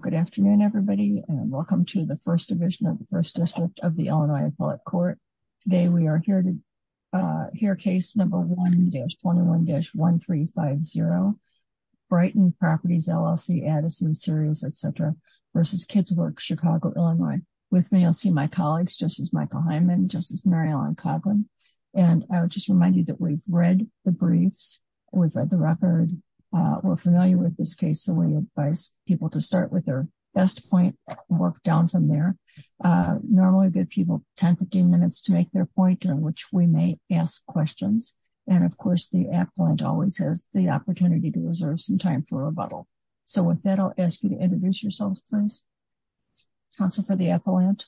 Good afternoon, everybody, and welcome to the First Division of the First District of the Illinois Appellate Court. Today we are here to hear case number 1-21-1350 Brighton Properties, LLC, Addison, Sirius, etc. v. Kids' Work Chicago, Illinois. With me, you'll see my colleagues, Justice Michael Hyman, Justice Mary Ellen Coughlin, and I would just remind you that we've read the briefs, we've read the record, we're familiar with this case, we advise people to start with their best point and work down from there. Normally we'll give people 10-15 minutes to make their point, during which we may ask questions. And of course, the appellant always has the opportunity to reserve some time for rebuttal. So with that, I'll ask you to introduce yourselves, please. Counsel for the appellant.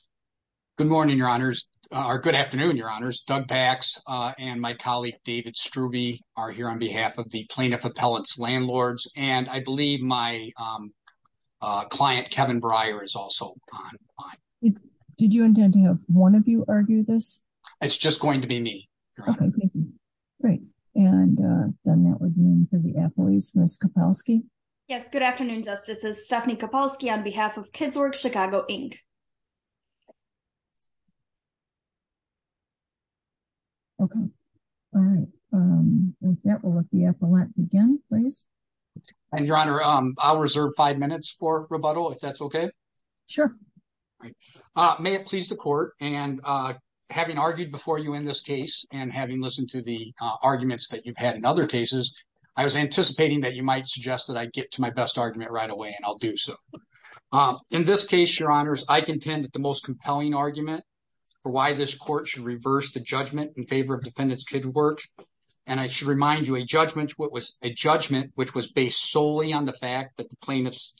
Good morning, Your Honors, or good afternoon, Your Honors. Doug Pax and my colleague David are here on behalf of the plaintiff appellant's landlords, and I believe my client Kevin Breyer is also on. Did you intend to have one of you argue this? It's just going to be me. Great. And then that would mean for the appellees, Ms. Kopalski? Yes, good afternoon, Justices. Stephanie Kopalski on behalf of Kids' Work Chicago, Inc. Okay. All right. With that, we'll let the appellant begin, please. And Your Honor, I'll reserve five minutes for rebuttal, if that's okay? Sure. May it please the Court, and having argued before you in this case, and having listened to the arguments that you've had in other cases, I was anticipating that you might suggest that I get to my best argument right away, and I'll do so. In this case, Your Honors, I contend that the most compelling argument for why this Court should reverse the judgment in favor of Defendant's Kids' Work, and I should remind you, a judgment which was based solely on the fact that the plaintiffs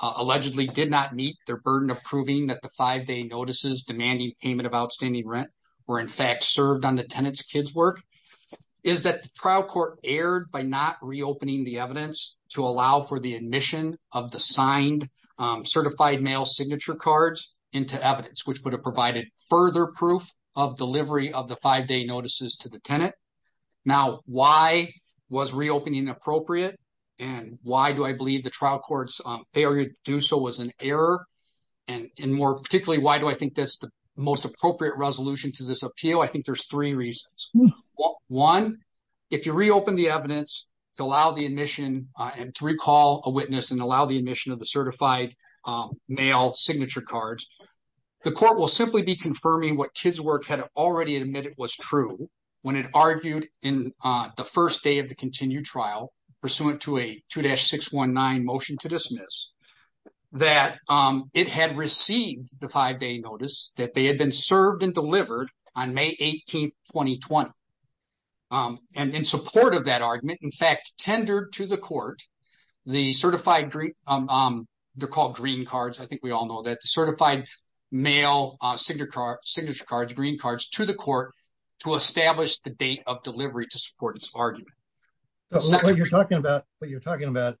allegedly did not meet their burden of proving that the five-day notices demanding payment of outstanding rent were, in fact, served on the tenant's kids' work, is that the trial court erred by not reopening the evidence to allow for the admission of the signed certified mail signature cards into evidence, which would have provided further proof of delivery of the five-day notices to the tenant. Now, why was reopening appropriate, and why do I believe the trial court's failure to do so was an error, and more particularly, why do I think that's the most appropriate resolution to this appeal? I think there's three reasons. One, if you reopen the evidence to allow the admission and to recall a witness and allow the admission of the certified mail signature cards, the Court will simply be confirming what Kids' Work had already admitted was true when it argued in the first day of the continued trial, pursuant to a 2-619 motion to dismiss, that it had received the five-day notice that they had been served and delivered on May 18, 2020. And in support of that argument, in fact, to the Court, the certified green, they're called green cards, I think we all know that, the certified mail signature cards, green cards, to the Court to establish the date of delivery to support this argument. What you're talking about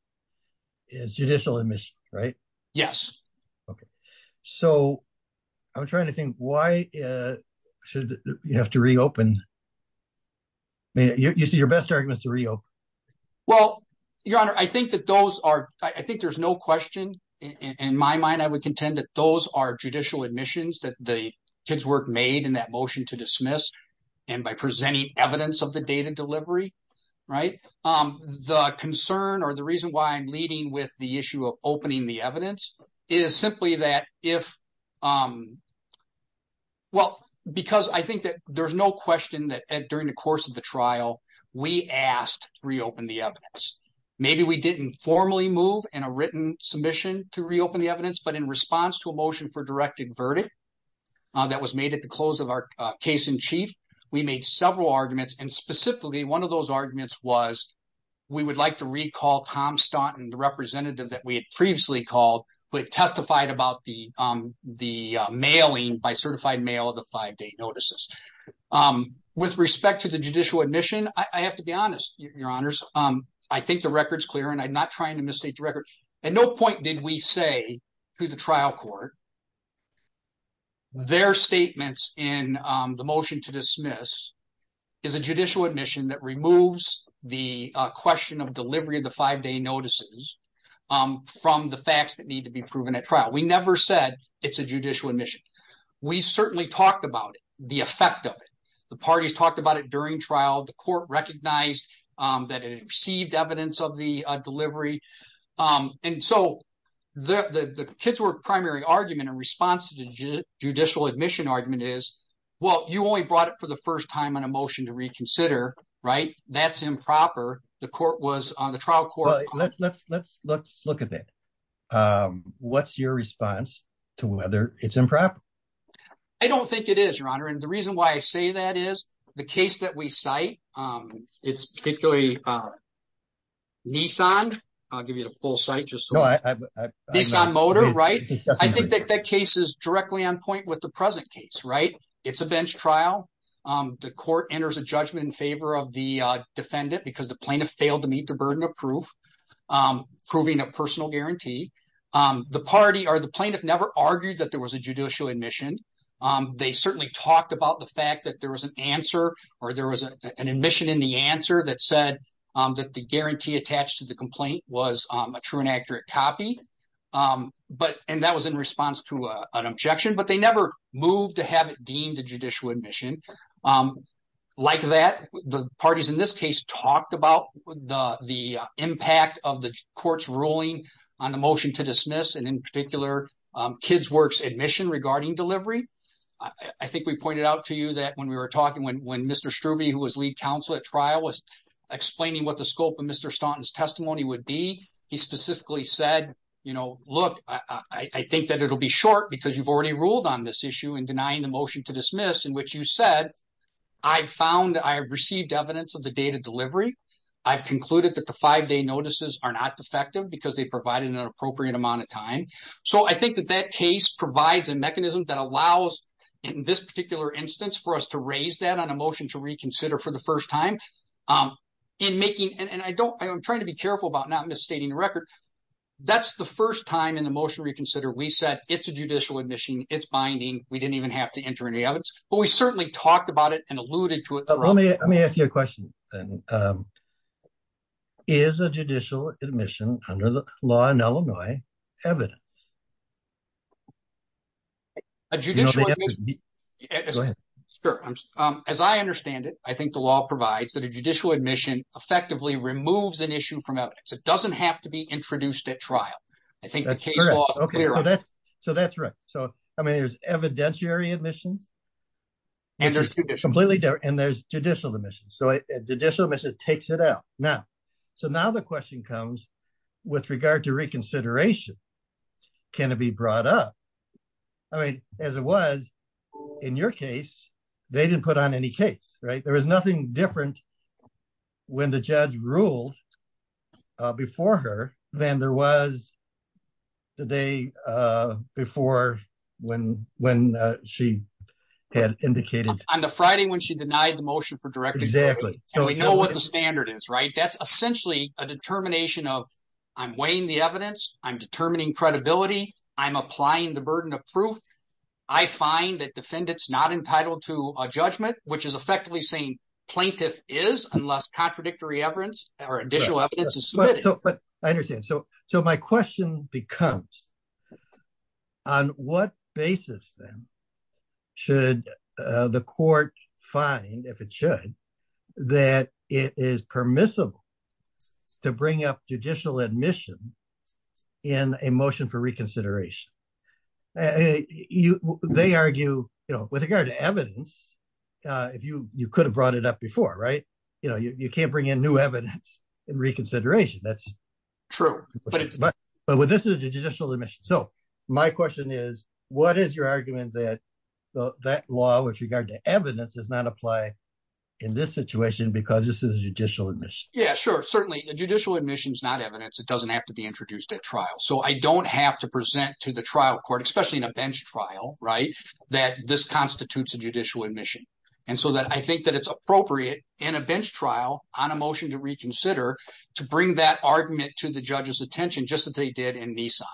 is judicial admission, right? Yes. Okay. So, I'm trying to think, why should you have to reopen? I mean, you said your best argument is Well, Your Honor, I think that those are, I think there's no question in my mind, I would contend that those are judicial admissions that the Kids' Work made in that motion to dismiss and by presenting evidence of the date of delivery, right? The concern or the reason why I'm leading with the issue of opening the evidence is simply that if, well, because I think that there's no question that during the course of the trial, we asked to reopen the evidence. Maybe we didn't formally move in a written submission to reopen the evidence, but in response to a motion for directed verdict that was made at the close of our case in chief, we made several arguments. And specifically, one of those arguments was, we would like to recall Tom Staunton, the representative that we had previously called, but testified about the mailing by certified mail of the five-day notices. With respect to the judicial admission, I have to be honest, Your Honors, I think the record's clear and I'm not trying to misstate the record. At no point did we say to the trial court their statements in the motion to dismiss is a judicial admission that removes the question of delivery of the five-day notices from the facts that need to be proven at trial. We never said it's a judicial admission. We certainly talked about it, the effect of it. The parties talked about it during trial. The court recognized that it had received evidence of the delivery. And so, the Kitzwerg primary argument in response to the judicial admission argument is, well, you only brought it for the first time on a motion to reconsider, right? That's improper. The trial Let's look at it. What's your response to whether it's improper? I don't think it is, Your Honor. And the reason why I say that is, the case that we cite, it's particularly Nissan. I'll give you the full site. Nissan Motor, right? I think that case is directly on point with the present case, right? It's a bench trial. The court enters a judgment in favor of the defendant because the plaintiff failed to meet the burden of proof, proving a personal guarantee. The party or the plaintiff never argued that there was a judicial admission. They certainly talked about the fact that there was an answer or there was an admission in the answer that said that the guarantee attached to the complaint was a true and accurate copy. And that was in response to an objection, but they never moved to have it deemed a judicial admission. Like that, the parties in this case talked about the impact of the court's ruling on the motion to dismiss, and in particular, KidsWork's admission regarding delivery. I think we pointed out to you that when we were talking, when Mr. Strube, who was lead counsel at trial, was explaining what the scope of Mr. Staunton's testimony would be, he specifically said, you know, look, I think that it'll be short because you've already ruled on this issue in the past. You said, I've found, I've received evidence of the date of delivery. I've concluded that the five-day notices are not defective because they provided an appropriate amount of time. So I think that that case provides a mechanism that allows, in this particular instance, for us to raise that on a motion to reconsider for the first time in making, and I don't, I'm trying to be careful about not misstating the record. That's the first time in the motion reconsider, we said it's a judicial admission, it's binding. We didn't even have to enter any evidence, but we certainly talked about it and alluded to it. Let me, let me ask you a question. Is a judicial admission under the law in Illinois evidence? As I understand it, I think the law provides that a judicial admission effectively removes an issue from evidence. It doesn't have to be introduced at trial. I think that's, so that's right. So, I mean, there's evidentiary admissions and there's completely different, and there's judicial admissions. So judicial admission takes it out. Now, so now the question comes with regard to reconsideration. Can it be brought up? I mean, as it was in your case, they didn't put on any case, right? There was nothing different when the judge ruled before her than there was the day before when, when she had indicated. On the Friday when she denied the motion for directly. Exactly. So we know what the standard is, right? That's essentially a determination of I'm weighing the evidence. I'm determining credibility. I'm applying the burden of proof. I find that defendants not entitled to a judgment, which is effectively saying plaintiff is unless contradictory evidence or additional evidence is submitted. But I understand. So, so my question becomes on what basis then should the court find, if it should, that it is permissible to bring up judicial admission in a motion for reconsideration? Hey, you, they argue, you know, with regard to evidence, if you, you could have brought it up before, right? You know, you can't bring in new evidence in reconsideration. That's true. But, but with this is a judicial admission. So my question is, what is your argument that that law with regard to evidence does not apply in this situation because this is judicial admission? Yeah, sure. Certainly a judicial admission is not evidence. It doesn't have to be introduced at trial. So I don't have to present to the trial court, especially in a bench trial, right? That this constitutes a judicial admission. And so that I think that it's appropriate in a bench trial on a motion to reconsider, to bring that argument to the judge's attention, just as they did in Nissan.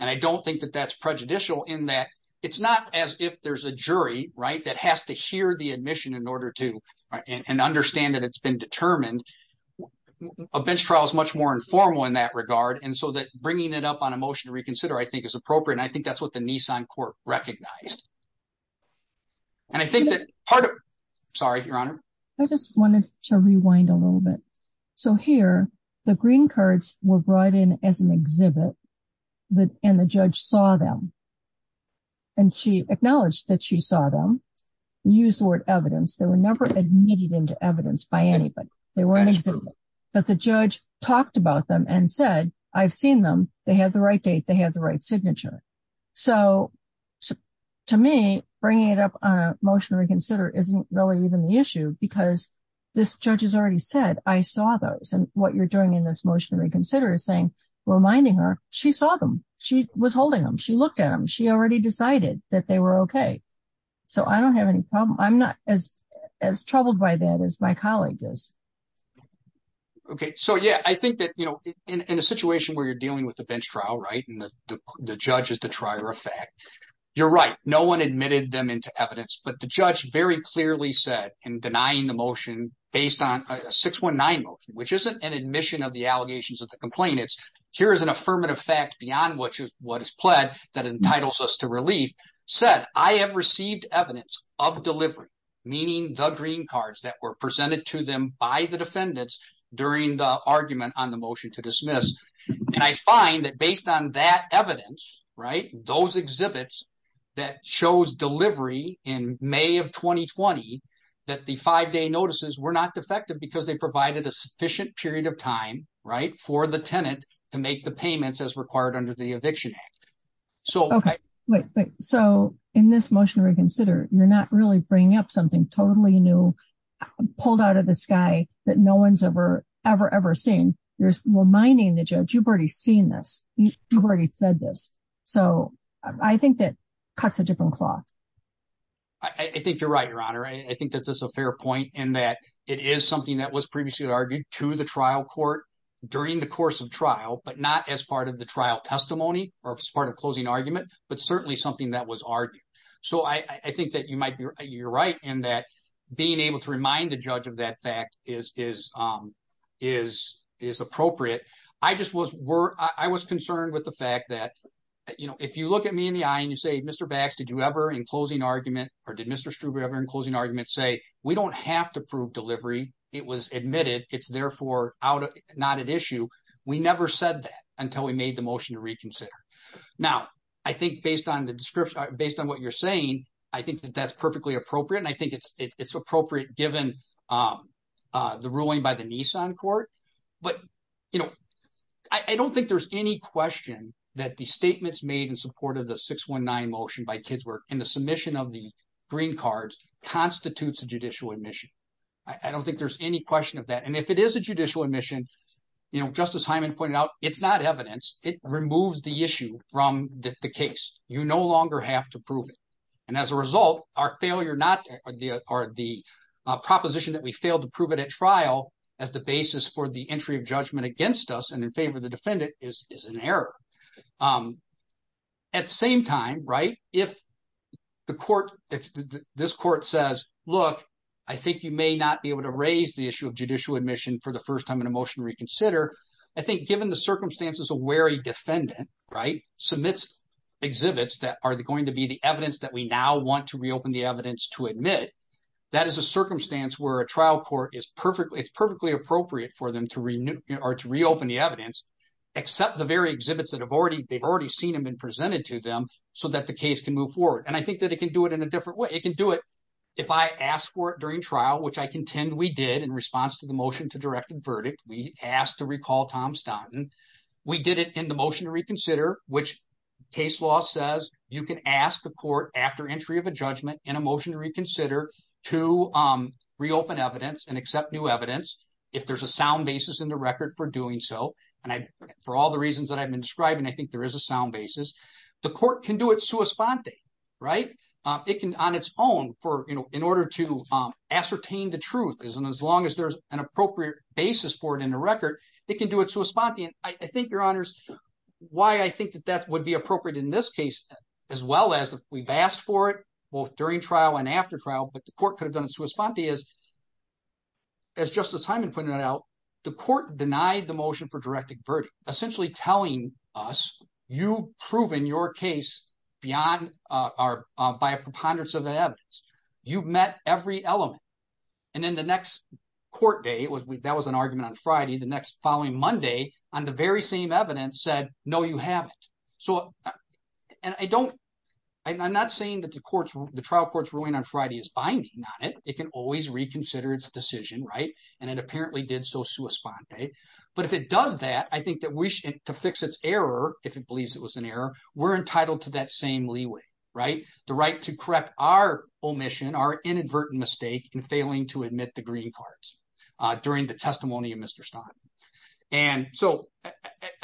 And I don't think that that's prejudicial in that it's not as if there's a jury, right? That has to hear the admission in order to understand that it's been determined. A bench trial is much more informal in that regard. And so that bringing it up on a motion to reconsider, I think is appropriate. And I think that's what the Nissan court recognized. And I think that part of, sorry, Your Honor. I just wanted to rewind a little bit. So here, the green cards were brought in as an exhibit, and the judge saw them. And she acknowledged that she saw them, used the word evidence. They were never admitted into evidence by anybody. They were an exhibit. But the judge talked about them and said, I've seen them. They have the right date. They have the right signature. So to me, bringing it up on a motion to reconsider isn't really even the issue because this judge has already said, I saw those. And what you're doing in this motion to reconsider is saying, reminding her, she saw them. She was holding them. She looked at them. She already decided that they were okay. So I don't have any problem. I'm not as troubled by that as my colleague is. Okay. So yeah, I think that in a situation where you're dealing with a bench trial, right, and the judge is the trier of fact, you're right. No one admitted them into evidence, but the judge very clearly said in denying the motion based on a 619 motion, which isn't an admission of the allegations of the complainants. Here is an affirmative fact beyond what is pled that entitles us to relief said, I have received evidence of delivery, meaning the green cards that were presented to them by the defendants during the argument on the motion to dismiss. And I find that based on that evidence, right, those exhibits that shows delivery in May of 2020, that the five day notices were not defective because they provided a sufficient period of time, right, for the tenant to make the payments as required under the eviction act. So in this motion to reconsider, you're not really bringing up something totally new, pulled out of the sky that no one's ever, ever, ever seen. You're reminding the judge, you've already seen this. You've already said this. So I think that cuts a different cloth. I think you're right, your honor. I think that this is a fair point in that it is something that was previously argued to the trial court during the course of trial, but not as part of the trial testimony or as part of closing argument, but certainly something that was argued. So I think that you're right in that being able to remind the judge of that fact is appropriate. I just was concerned with the fact that, you know, if you look at me in the eye and you say, Mr. Bax, did you ever in closing argument or did Mr. Struber ever in closing argument say, we don't have to prove delivery? It was admitted. It's therefore not an issue. We never said that until we made the motion to reconsider. Now, I think based on the description, based on what you're saying, I think that that's perfectly appropriate. And I think it's appropriate given the ruling by the Nissan court. But, you know, I don't think there's any question that the statements made in support of the 619 motion by Kidsworth and the submission of the green cards constitutes a judicial admission. I don't think there's any question of that. And if it is a judicial admission, you know, Justice Hyman pointed out, it's not evidence. It removes the issue from the case. You no longer have to prove it. And as a result, our failure or the proposition that we failed to prove it at trial as the basis for the entry of judgment against us in favor of the defendant is an error. At the same time, right, if the court, if this court says, look, I think you may not be able to raise the issue of judicial admission for the first time in a motion to reconsider, I think given the circumstances a wary defendant, right, submits exhibits that are going to be the evidence that we now want to reopen the evidence to admit, that is a circumstance where a trial court is perfectly, it's perfectly appropriate for them or to reopen the evidence, except the very exhibits that have already, they've already seen them and presented to them so that the case can move forward. And I think that it can do it in a different way. It can do it if I ask for it during trial, which I contend we did in response to the motion to direct and verdict. We asked to recall Tom Stanton. We did it in the motion to reconsider, which case law says you can ask a court after entry of a judgment in a motion to reconsider to reopen evidence and accept new evidence. If there's a sound basis in the record for doing so, and I, for all the reasons that I've been describing, I think there is a sound basis. The court can do it sua sponte, right? It can on its own for, you know, in order to ascertain the truth is, and as long as there's an appropriate basis for it in the record, it can do it sua sponte. And I think your honors, why I think that that would be appropriate in this case, as well as we've asked for it both during trial and after trial, but the court could have done it sua sponte is as Justice Hyman pointed out, the court denied the motion for directing verdict, essentially telling us you proven your case beyond our, by a preponderance of the evidence you've met every element. And then the next court day was, that was an argument on Friday. The next following Monday on the very same evidence said, no, you haven't. So, and I don't, I'm not saying that the courts, the trial courts ruling on Friday is binding on it. It can always reconsider its decision, right? And it apparently did so sua sponte. But if it does that, I think that we to fix its error, if it believes it was an error, we're entitled to that same leeway, right? The right to correct our omission, our inadvertent mistake in failing to admit the green cards during the testimony of Mr. Staunt. And so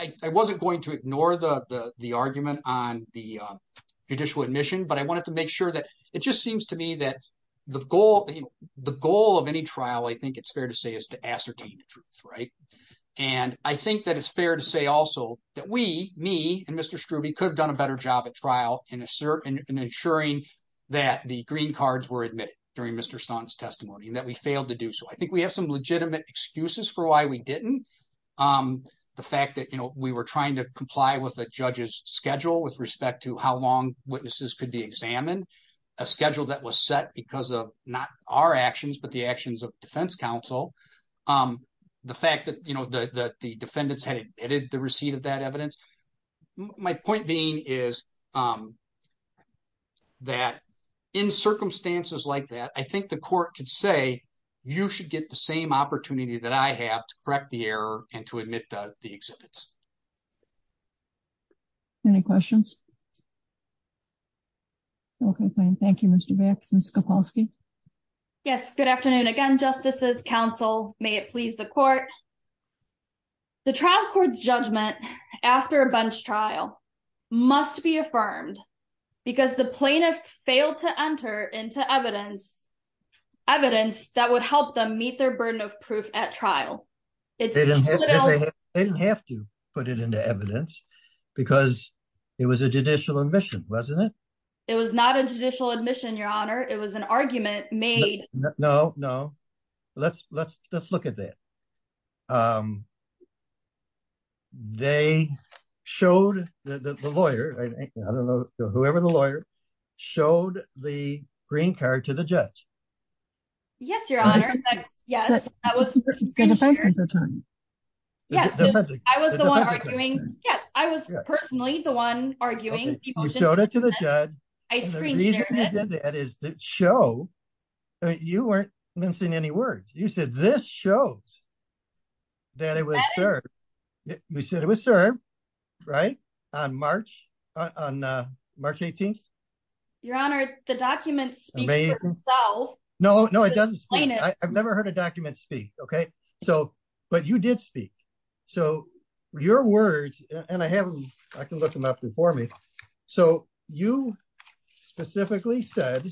I wasn't going to ignore the argument on the judicial admission, but I wanted to make sure that it just seems to me that the goal, the goal of any trial, I think it's fair to say is to ascertain the truth, right? And I think that it's fair to say also that we, me and Mr. Strube could have done a better job at trial in asserting and ensuring that the green cards were admitted during Mr. Staunt's testimony and that we failed to do so. I think we have some legitimate excuses for why we didn't. The fact that we were trying to comply with the judge's schedule with respect to how long witnesses could be examined, a schedule that was set because of not our actions, but the actions of defense counsel. The fact that the defendants had admitted the receipt of that evidence. My point being is that in circumstances like that, I think the court could say, you should get the same opportunity that I have to correct the error and to admit the exhibits. Any questions? Okay, fine. Thank you, Mr. Bax, Ms. Kowalski. Yes, good afternoon again, justices, counsel, may it please the court. The trial court's judgment after a bunch trial must be affirmed because the plaintiffs failed to enter into evidence, evidence that would help them meet their burden of proof at trial. They didn't have to put it into evidence because it was a judicial admission, wasn't it? It was not a judicial admission, your honor. It was an argument made. No, no, let's, let's, let's They showed the lawyer, I don't know, whoever the lawyer showed the green card to the judge. Yes, your honor. Yes, I was the one arguing. Yes, I was personally the one arguing. You showed it to the judge. The reason I did that is to show that you weren't missing any words. You said this shows that it was served. We said it was served, right? On March, on March 18th. Your honor, the document speaks for itself. No, no, it doesn't. I've never heard a document speak. Okay. So, but you did speak. So your words, and I have, I can look them up before me. So you specifically said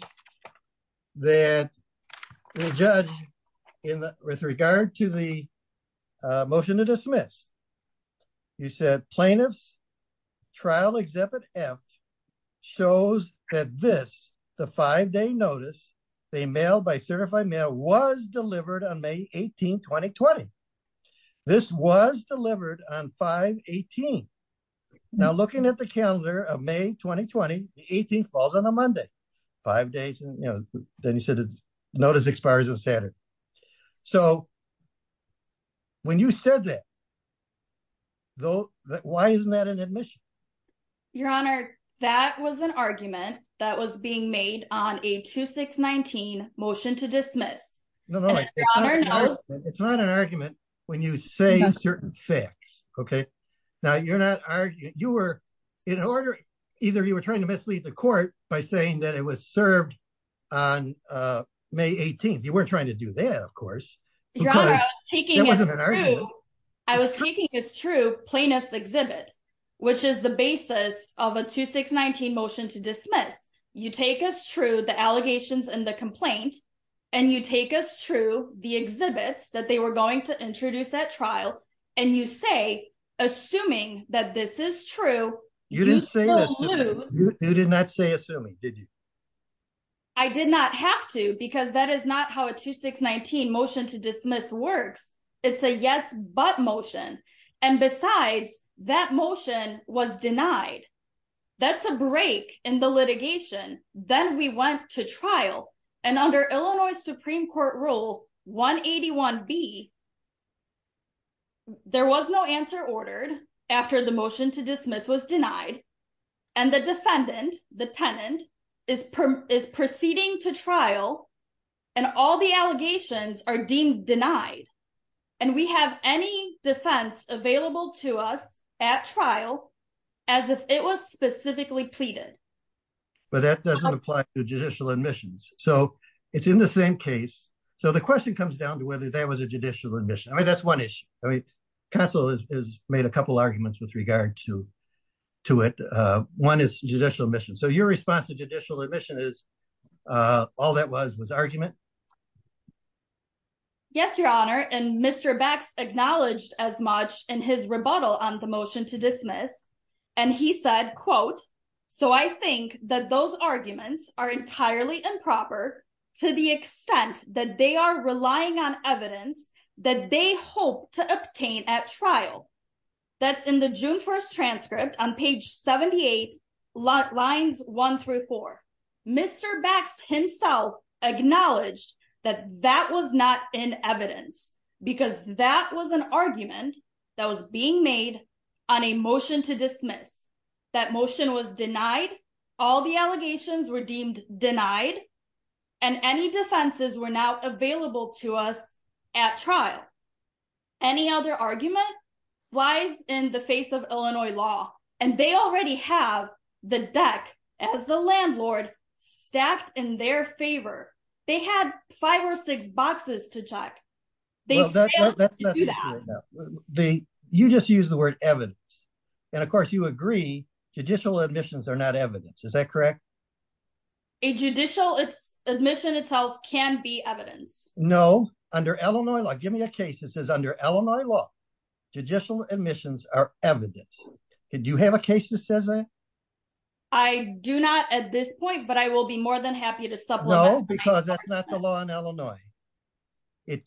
that the judge in the, with regard to the motion to dismiss, you said plaintiff's trial Exhibit F shows that this, the five-day notice, they mailed by certified mail was delivered on May 18th, 2020. This was delivered on 5-18. Now looking at the calendar of May 2020, the 18th falls on a Monday. Five days, you know, then you said the notice expires on Saturday. So when you said that, though, why isn't that an admission? Your honor, that was an argument that was being made on a 2619 motion to dismiss. No, no, it's not an argument when you say certain facts. Okay. Now you're not arguing, you were in order, either you were trying to mislead the court by saying that it was served on May 18th. You weren't trying to do that, of course. I was taking as true plaintiff's exhibit, which is the basis of a 2619 motion to dismiss. You take as true the allegations and the complaint, and you take as true the exhibits that were going to introduce at trial, and you say, assuming that this is true, you did not say assuming, did you? I did not have to, because that is not how a 2619 motion to dismiss works. It's a yes, but motion. And besides, that motion was denied. That's a break in the litigation. Then we went to trial, and under Illinois Supreme Court rule 181B, there was no answer ordered after the motion to dismiss was denied. And the defendant, the tenant, is proceeding to trial, and all the allegations are deemed denied. And we have any defense available to us at trial as if it was specifically pleaded. But that doesn't apply to judicial admissions. So it's in the same case. So the question comes down to whether that was a judicial admission. I mean, that's one issue. I mean, counsel has made a couple arguments with regard to it. One is judicial admission. So your response to judicial admission is all that was was argument? Yes, Your Honor. And Mr. Bax acknowledged as much in his rebuttal on the motion to dismiss. And he said, quote, So I think that those arguments are entirely improper, to the extent that they are relying on evidence that they hope to obtain at trial. That's in the June 1st transcript on page 78, lines one through four. Mr. Bax himself acknowledged that that was not in evidence, because that was an argument that was being made on a motion to dismiss. That motion was denied. All the allegations were deemed denied. And any defenses were not available to us at trial. Any other argument flies in the face of they had five or six boxes to check. You just use the word evidence. And of course, you agree, judicial admissions are not evidence. Is that correct? A judicial admission itself can be evidence. No, under Illinois law, give me a case that says under Illinois law, judicial admissions are evidence. Did you have a case that says that? I do not at this point, but I will be more than happy to supplement. No, because that's not the law in Illinois. It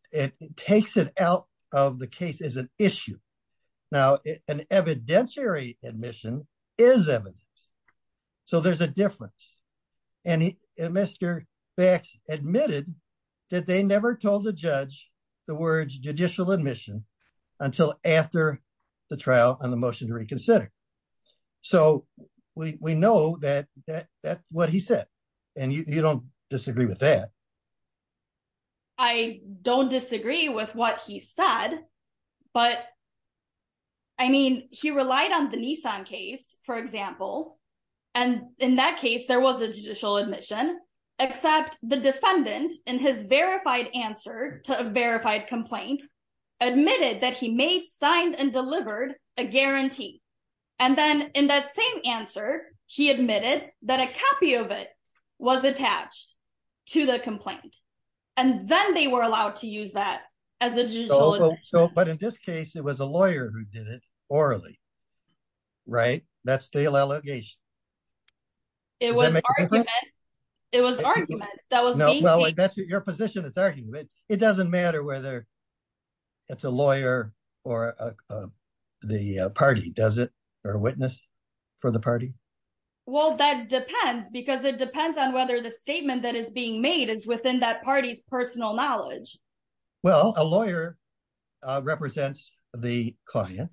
takes it out of the case as an issue. Now, an evidentiary admission is evidence. So there's a difference. And Mr. Bax admitted that they never told the judge the words judicial admission until after the trial on the motion to consider. So we know that that's what he said. And you don't disagree with that. I don't disagree with what he said. But I mean, he relied on the Nissan case, for example. And in that case, there was a judicial admission, except the defendant in his verified answer to a guarantee. And then in that same answer, he admitted that a copy of it was attached to the complaint. And then they were allowed to use that as a judicial admission. But in this case, it was a lawyer who did it orally, right? That's the allegation. It was argument. It was argument. It doesn't matter whether it's a lawyer or the party, does it? Or a witness for the party? Well, that depends because it depends on whether the statement that is being made is within that party's personal knowledge. Well, a lawyer represents the client.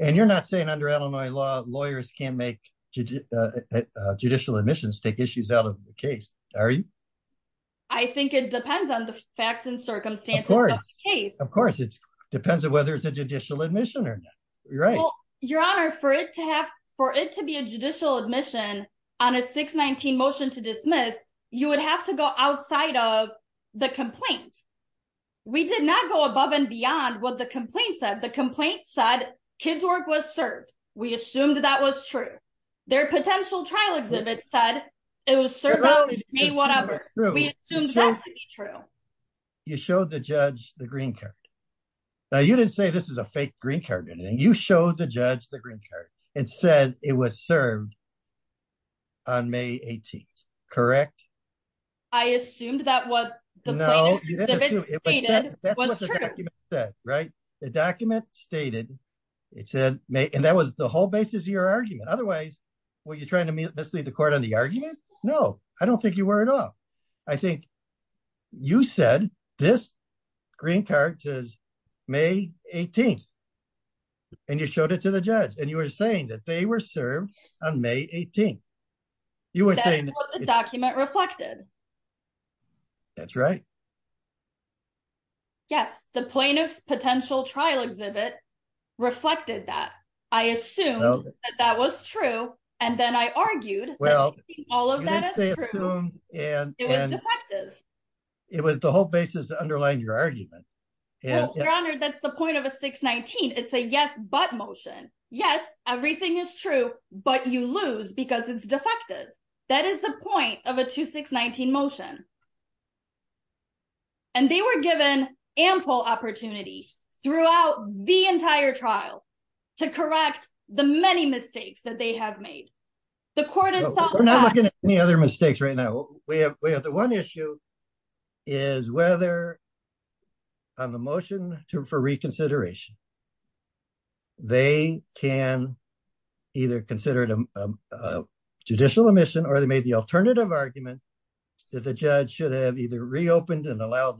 And you're not saying under Illinois law, lawyers can't make judicial admissions take issues out of the case, are you? I think it depends on the facts and circumstances of the case. Of course, it depends on whether it's a judicial admission or not. Your Honor, for it to be a judicial admission on a 619 motion to dismiss, you would have to go outside of the complaint. We did not go above and beyond what the complaint said. The complaint said kids work was served. We assumed that was true. Their potential trial exhibit said it was served on May whatever. We assumed that to be true. You showed the judge the green card. Now, you didn't say this is a fake green card or anything. You showed the judge the green card and said it was served on May 18th, correct? I assumed that what the plaintiff stated was true. No, that's what the document said, right? The document stated, it said, and that was the whole argument. Otherwise, were you trying to mislead the court on the argument? No, I don't think you were at all. I think you said this green card says May 18th, and you showed it to the judge, and you were saying that they were served on May 18th. That's what the document reflected. That's right. Yes, the plaintiff's potential trial exhibit reflected that. I assumed that that was true, and then I argued that all of that is true. Well, you didn't say assumed and- It was defective. It was the whole basis underlying your argument. Well, Your Honor, that's the point of a 619. It's a yes but motion. Yes, everything is true, but you lose because it's defective. That is the point of a 2619 motion. They were given ample opportunity throughout the entire trial to correct the many mistakes that they have made. The court itself- We're not looking at any other mistakes right now. We have the one issue is whether on the motion for reconsideration, they can either consider it a reopened and allowed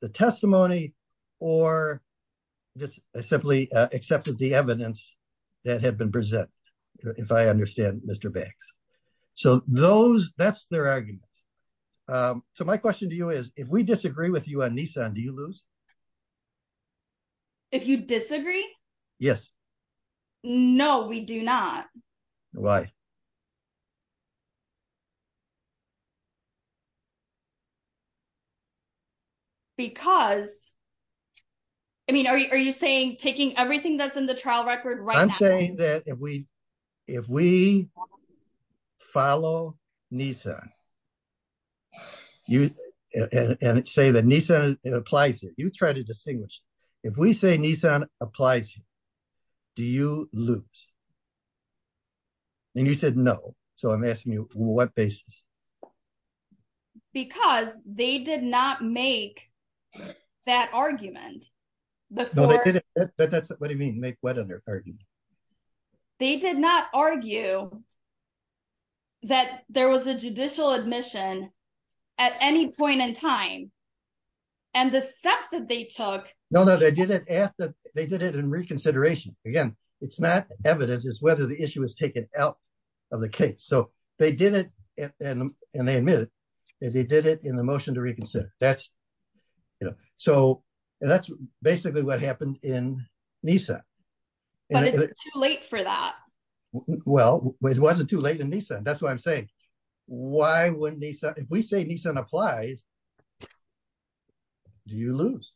the testimony or just simply accepted the evidence that had been presented, if I understand Mr. Banks. That's their argument. My question to you is, if we disagree with you on Nissan, do you lose? If you disagree? Yes. No, we do not. Why? Because, I mean, are you saying taking everything that's in the trial record right now- I'm saying that if we follow Nissan and say that Nissan applies here, you try to distinguish. If we say Nissan applies here, do you lose? You said no, so I'm asking you on what basis? Because they did not make that argument before- No, they didn't. What do you mean, make what argument? They did not argue that there was a judicial admission at any point in time. And the steps that they took- No, no, they did it in reconsideration. Again, it's not evidence, it's whether the issue is taken out of the case. So they did it, and they admit it, they did it in the motion to reconsider. So that's basically what happened in Nissan. But it's too late for that. Well, it wasn't too late in Nissan. That's why I'm saying, if we say Nissan applies, do you lose?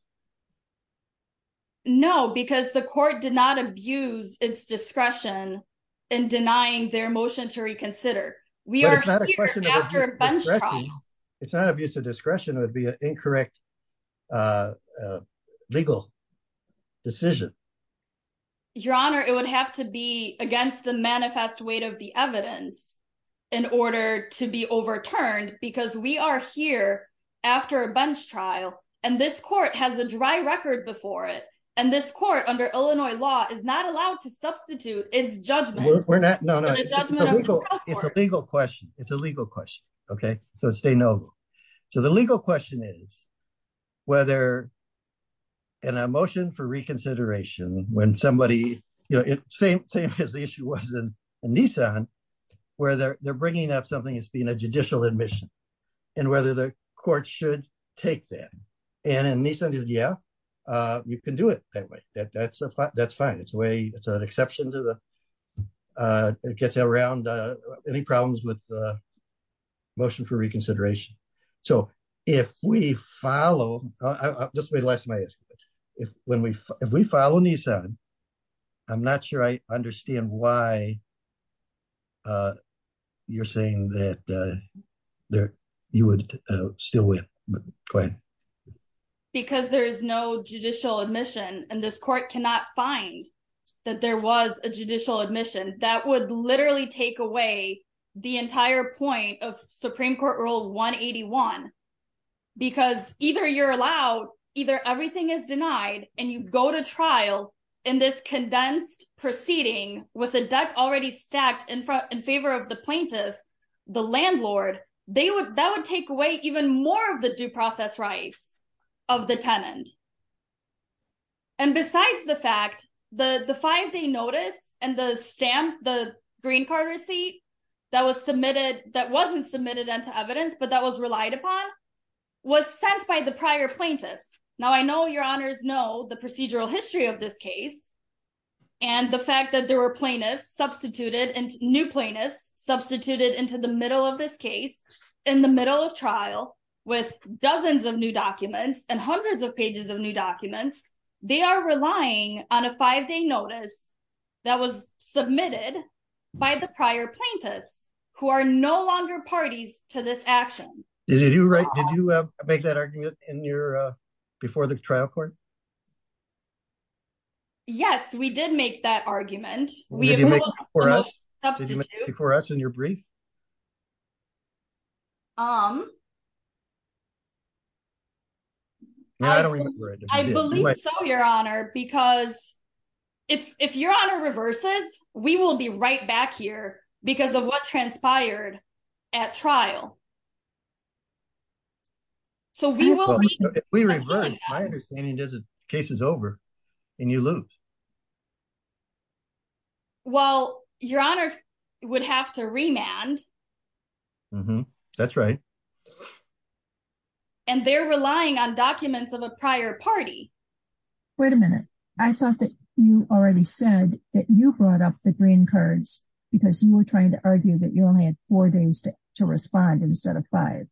No, because the court did not abuse its discretion in denying their motion to reconsider. But it's not a question of abuse of discretion. It's not abuse of discretion, it would be an incorrect legal decision. Your Honor, it would have to be against the manifest weight of the evidence in order to be overturned, because we are here after a bunch trial, and this court hasn't a dry record before it. And this court under Illinois law is not allowed to substitute its judgment. No, no, it's a legal question. It's a legal question. Okay, so stay noble. So the legal question is, whether in a motion for reconsideration, when somebody, same as the issue was in Nissan, where they're bringing up something as being a judicial admission, and whether the court should take that. And in Nissan, yeah, you can do it that way. That's fine. It's a way, it's an exception to the, it gets around any problems with the motion for reconsideration. So if we follow, I'll just say the last of my escapades. If we follow Nissan, I'm not sure I you would still win, but go ahead. Because there is no judicial admission, and this court cannot find that there was a judicial admission that would literally take away the entire point of Supreme Court Rule 181. Because either you're allowed, either everything is denied, and you go to trial in this condensed proceeding with a deck already stacked in front in favor of the plaintiff, the landlord, that would take away even more of the due process rights of the tenant. And besides the fact, the five-day notice and the stamp, the green card receipt that was submitted, that wasn't submitted into evidence, but that was relied upon, was sent by the prior plaintiffs. Now, I know your honors know the procedural history of this case, and the fact that there plaintiffs substituted, new plaintiffs substituted into the middle of this case, in the middle of trial, with dozens of new documents and hundreds of pages of new documents, they are relying on a five-day notice that was submitted by the prior plaintiffs, who are no longer parties to this action. Did you make that argument before the trial court? Yes, we did make that argument. Did you make it before us? Did you make it before us in your brief? No, I don't remember it. I believe so, your honor, because if your honor reverses, we will be right back here because of what transpired at trial. So, we will, if we reverse, my understanding is the case is over, and you lose. Well, your honor would have to remand. That's right. And they're relying on documents of a prior party. Wait a minute. I thought that you already said that you brought up the green cards, because you were trying to argue that you only had four days to respond. Instead of five.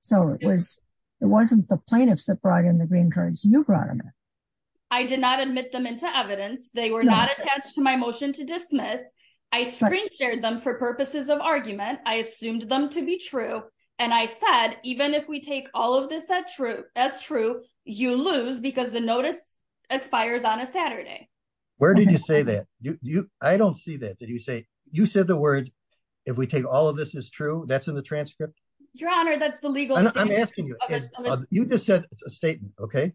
So, it wasn't the plaintiffs that brought in the green cards, you brought them in. I did not admit them into evidence. They were not attached to my motion to dismiss. I screen-shared them for purposes of argument. I assumed them to be true. And I said, even if we take all of this as true, you lose because the notice expires on a Saturday. Where did you say that? I don't see that. Did you say, you said the words, if we take all of this as true, that's in the transcript? Your honor, that's the legal statement. I'm asking you, you just said it's a statement, okay?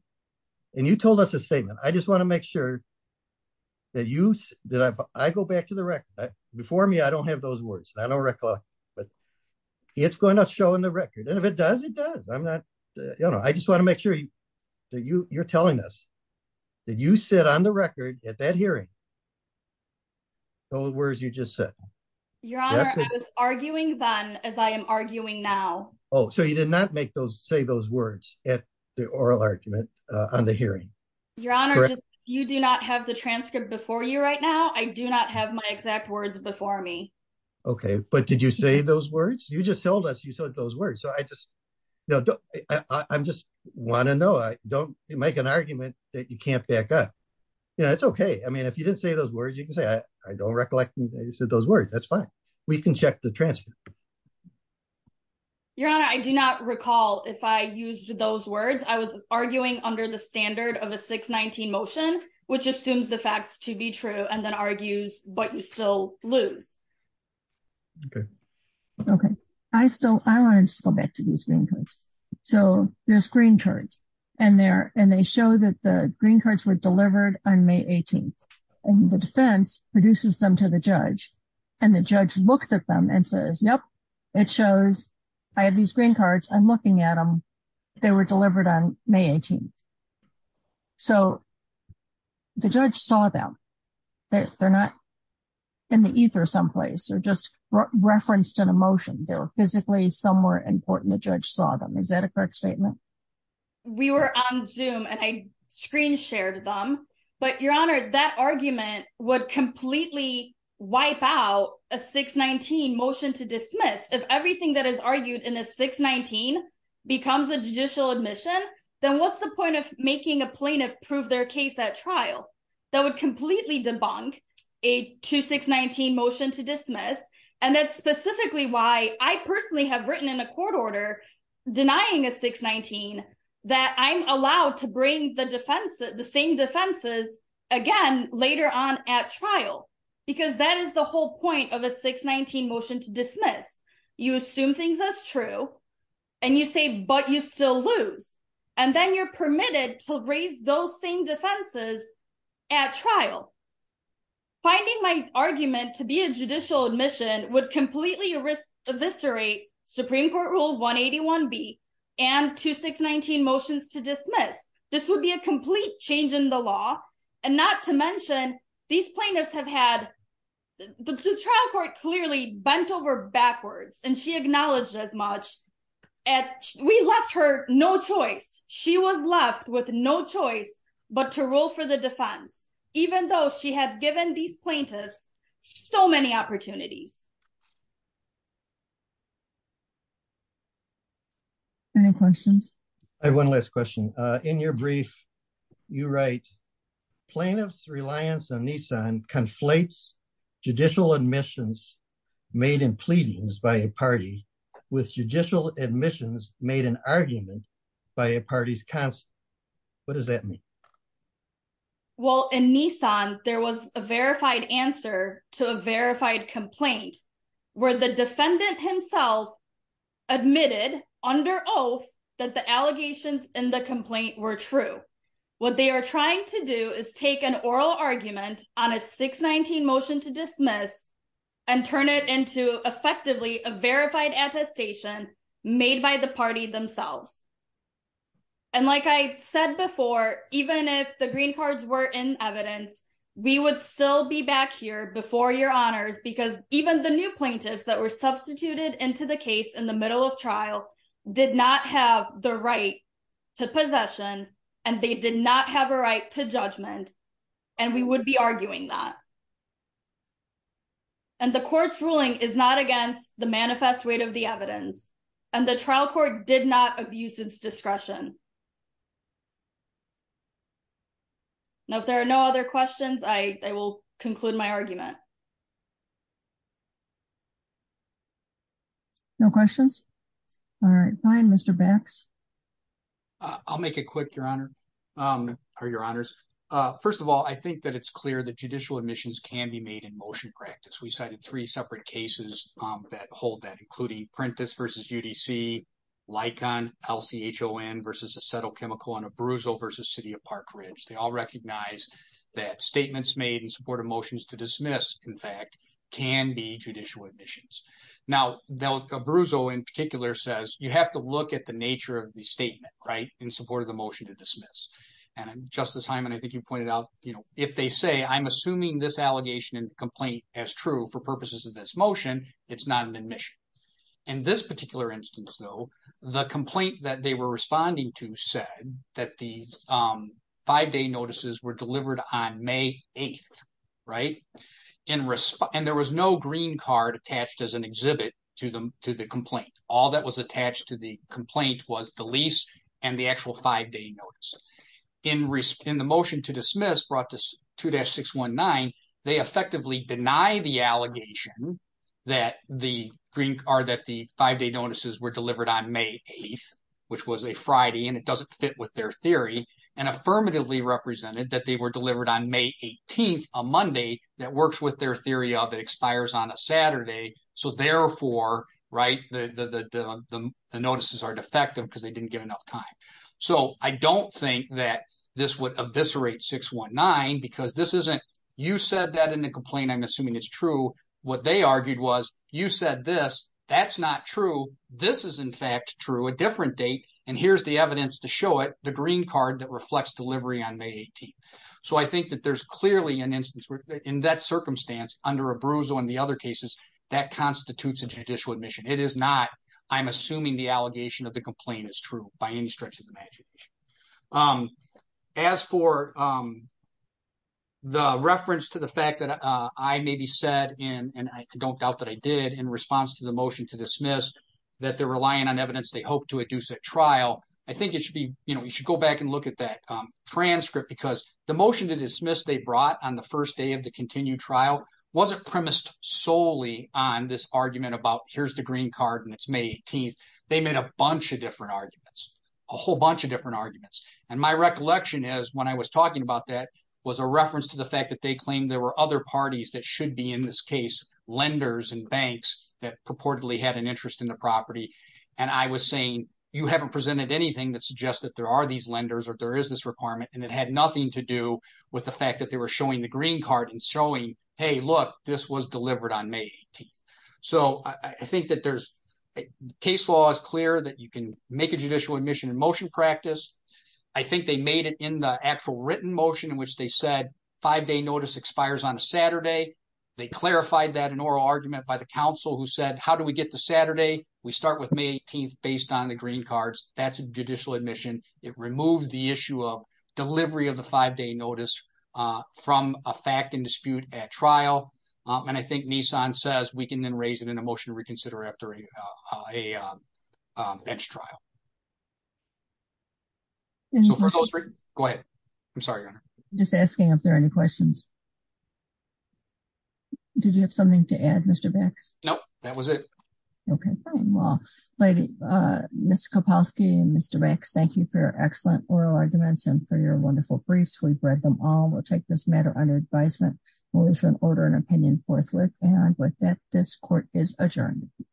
And you told us a statement. I just want to make sure that you, that I go back to the record. Before me, I don't have those words. I don't recall, but it's going to show in the record. And if it does, it does. I'm not, you know, I just want to make sure that you're telling us that you said on the record at that time. Your honor, I was arguing then as I am arguing now. Oh, so you did not make those, say those words at the oral argument on the hearing? Your honor, you do not have the transcript before you right now. I do not have my exact words before me. Okay. But did you say those words? You just told us you said those words. So I just, you know, I'm just want to know, I don't make an argument that you can't back up. You know, it's okay. I mean, if you didn't say those words, you can say, I don't recollect that you said those words. That's fine. We can check the transcript. Your honor, I do not recall if I used those words, I was arguing under the standard of a 619 motion, which assumes the facts to be true and then argues, but you still lose. Okay. Okay. I still, I want to just go back to these green cards. So there's green cards and they show that the green cards were delivered on May 18th and the defense produces them to the judge and the judge looks at them and says, yep, it shows I have these green cards. I'm looking at them. They were delivered on May 18th. So the judge saw them. They're not in the ether someplace or just referenced in a motion. They were physically somewhere important. The judge saw them. Is that a correct statement? We were on zoom and I screen shared them, but your honor, that argument would completely wipe out a 619 motion to dismiss. If everything that is argued in a 619 becomes a judicial admission, then what's the point of making a plaintiff prove their case, that trial that would completely debunk a 2, 6, 19 motion to dismiss. And that's specifically why I personally have written in a court order denying a 619 that I'm allowed to bring the defense, the same defenses again, later on at trial, because that is the whole point of a 619 motion to dismiss. You assume things as true and you say, but you still lose. And then you're permitted to raise those same defenses at trial. Finding my argument to be judicial admission would completely risk eviscerate Supreme court rule 181 B and 2, 6, 19 motions to dismiss. This would be a complete change in the law. And not to mention these plaintiffs have had the trial court clearly bent over backwards and she acknowledged as much at, we left her no choice. She was left with no choice, but to roll for the defense, even though she had given these plaintiffs so many opportunities. Any questions? I have one last question. Uh, in your brief, you write plaintiff's reliance on Nissan conflates judicial admissions made in pleadings by a party with judicial admissions made an argument by a party's council. What does that mean? Well, in Nissan, there was a verified answer to a verified complaint where the defendant himself admitted under oath that the allegations in the complaint were true. What they are trying to do is take an oral argument on a 619 motion to dismiss and turn it into effectively a verified attestation made by the party themselves. And like I said before, even if the green cards were in evidence, we would still be back here before your honors, because even the new plaintiffs that were substituted into the case in the middle of trial did not have the right to possession. And they did not have a right to judgment. And we would be arguing that and the court's ruling is not against the manifest weight of the evidence. And the trial court did not abuse its discretion. Now, if there are no other questions, I will conclude my argument. No questions. All right. Fine. Mr. Bax. I'll make it quick, your honor. Um, or your honors. First of all, I think that it's clear that judicial admissions can be made in motion practice. We cited three separate cases that hold that, including Prentice versus UDC, Licon, LCHON versus Acetyl Chemical, and Abruzzo versus City of Park Ridge. They all recognize that statements made in support of motions to dismiss, in fact, can be judicial admissions. Now, Abruzzo in particular says you have to look at the nature of the statement, in support of the motion to dismiss. And Justice Hyman, I think you pointed out, if they say, I'm assuming this allegation and complaint as true for purposes of this motion, it's not an admission. In this particular instance, though, the complaint that they were responding to said that these five-day notices were delivered on May 8th. And there was no green card attached as an exhibit to the complaint. All that was attached to the and the actual five-day notice. In the motion to dismiss brought to 2-619, they effectively deny the allegation that the green card that the five-day notices were delivered on May 8th, which was a Friday, and it doesn't fit with their theory, and affirmatively represented that they were delivered on May 18th, a Monday that works with their theory of it expires on a Saturday. So therefore, the notices are defective because they didn't get enough time. So I don't think that this would eviscerate 619 because this isn't, you said that in the complaint, I'm assuming it's true. What they argued was, you said this, that's not true. This is in fact true, a different date. And here's the evidence to show it, the green card that reflects delivery on May 18th. So I think that there's clearly an instance in that circumstance under Abruzzo and the other cases that constitutes a judicial admission. It is not, I'm assuming the allegation of the complaint is true by any stretch of the magic. As for the reference to the fact that I maybe said, and I don't doubt that I did in response to the motion to dismiss, that they're relying on evidence they hope to induce at trial, I think it should be, you should go back and look at that transcript because the motion to dismiss they brought on the first day of the continued trial wasn't premised solely on this argument about here's the green card and it's May 18th. They made a bunch of different arguments, a whole bunch of different arguments. And my recollection is when I was talking about that was a reference to the fact that they claimed there were other parties that should be in this case, lenders and banks that purportedly had an interest in the property. And I was saying, you haven't presented anything that suggests that there are these lenders or there is this were showing the green card and showing, hey, look, this was delivered on May 18th. So I think that there's, case law is clear that you can make a judicial admission in motion practice. I think they made it in the actual written motion in which they said five day notice expires on a Saturday. They clarified that in oral argument by the council who said, how do we get to Saturday? We start with May 18th based on the green cards. That's judicial admission. It removes the issue of delivery of the five day notice from a fact and dispute at trial. And I think Nissan says we can then raise it in a motion to reconsider after a bench trial. Go ahead. I'm sorry. I'm just asking if there are any questions. Did you have something to add Mr. Bax? Nope. That was it. Okay. Fine. Well, Ms. Kowalski and Mr. Bax, thank you for your excellent oral arguments and for your wonderful briefs. We've read them all. We'll take this matter under advisement. We'll issue an order and opinion forthwith. And with that, this court is adjourned.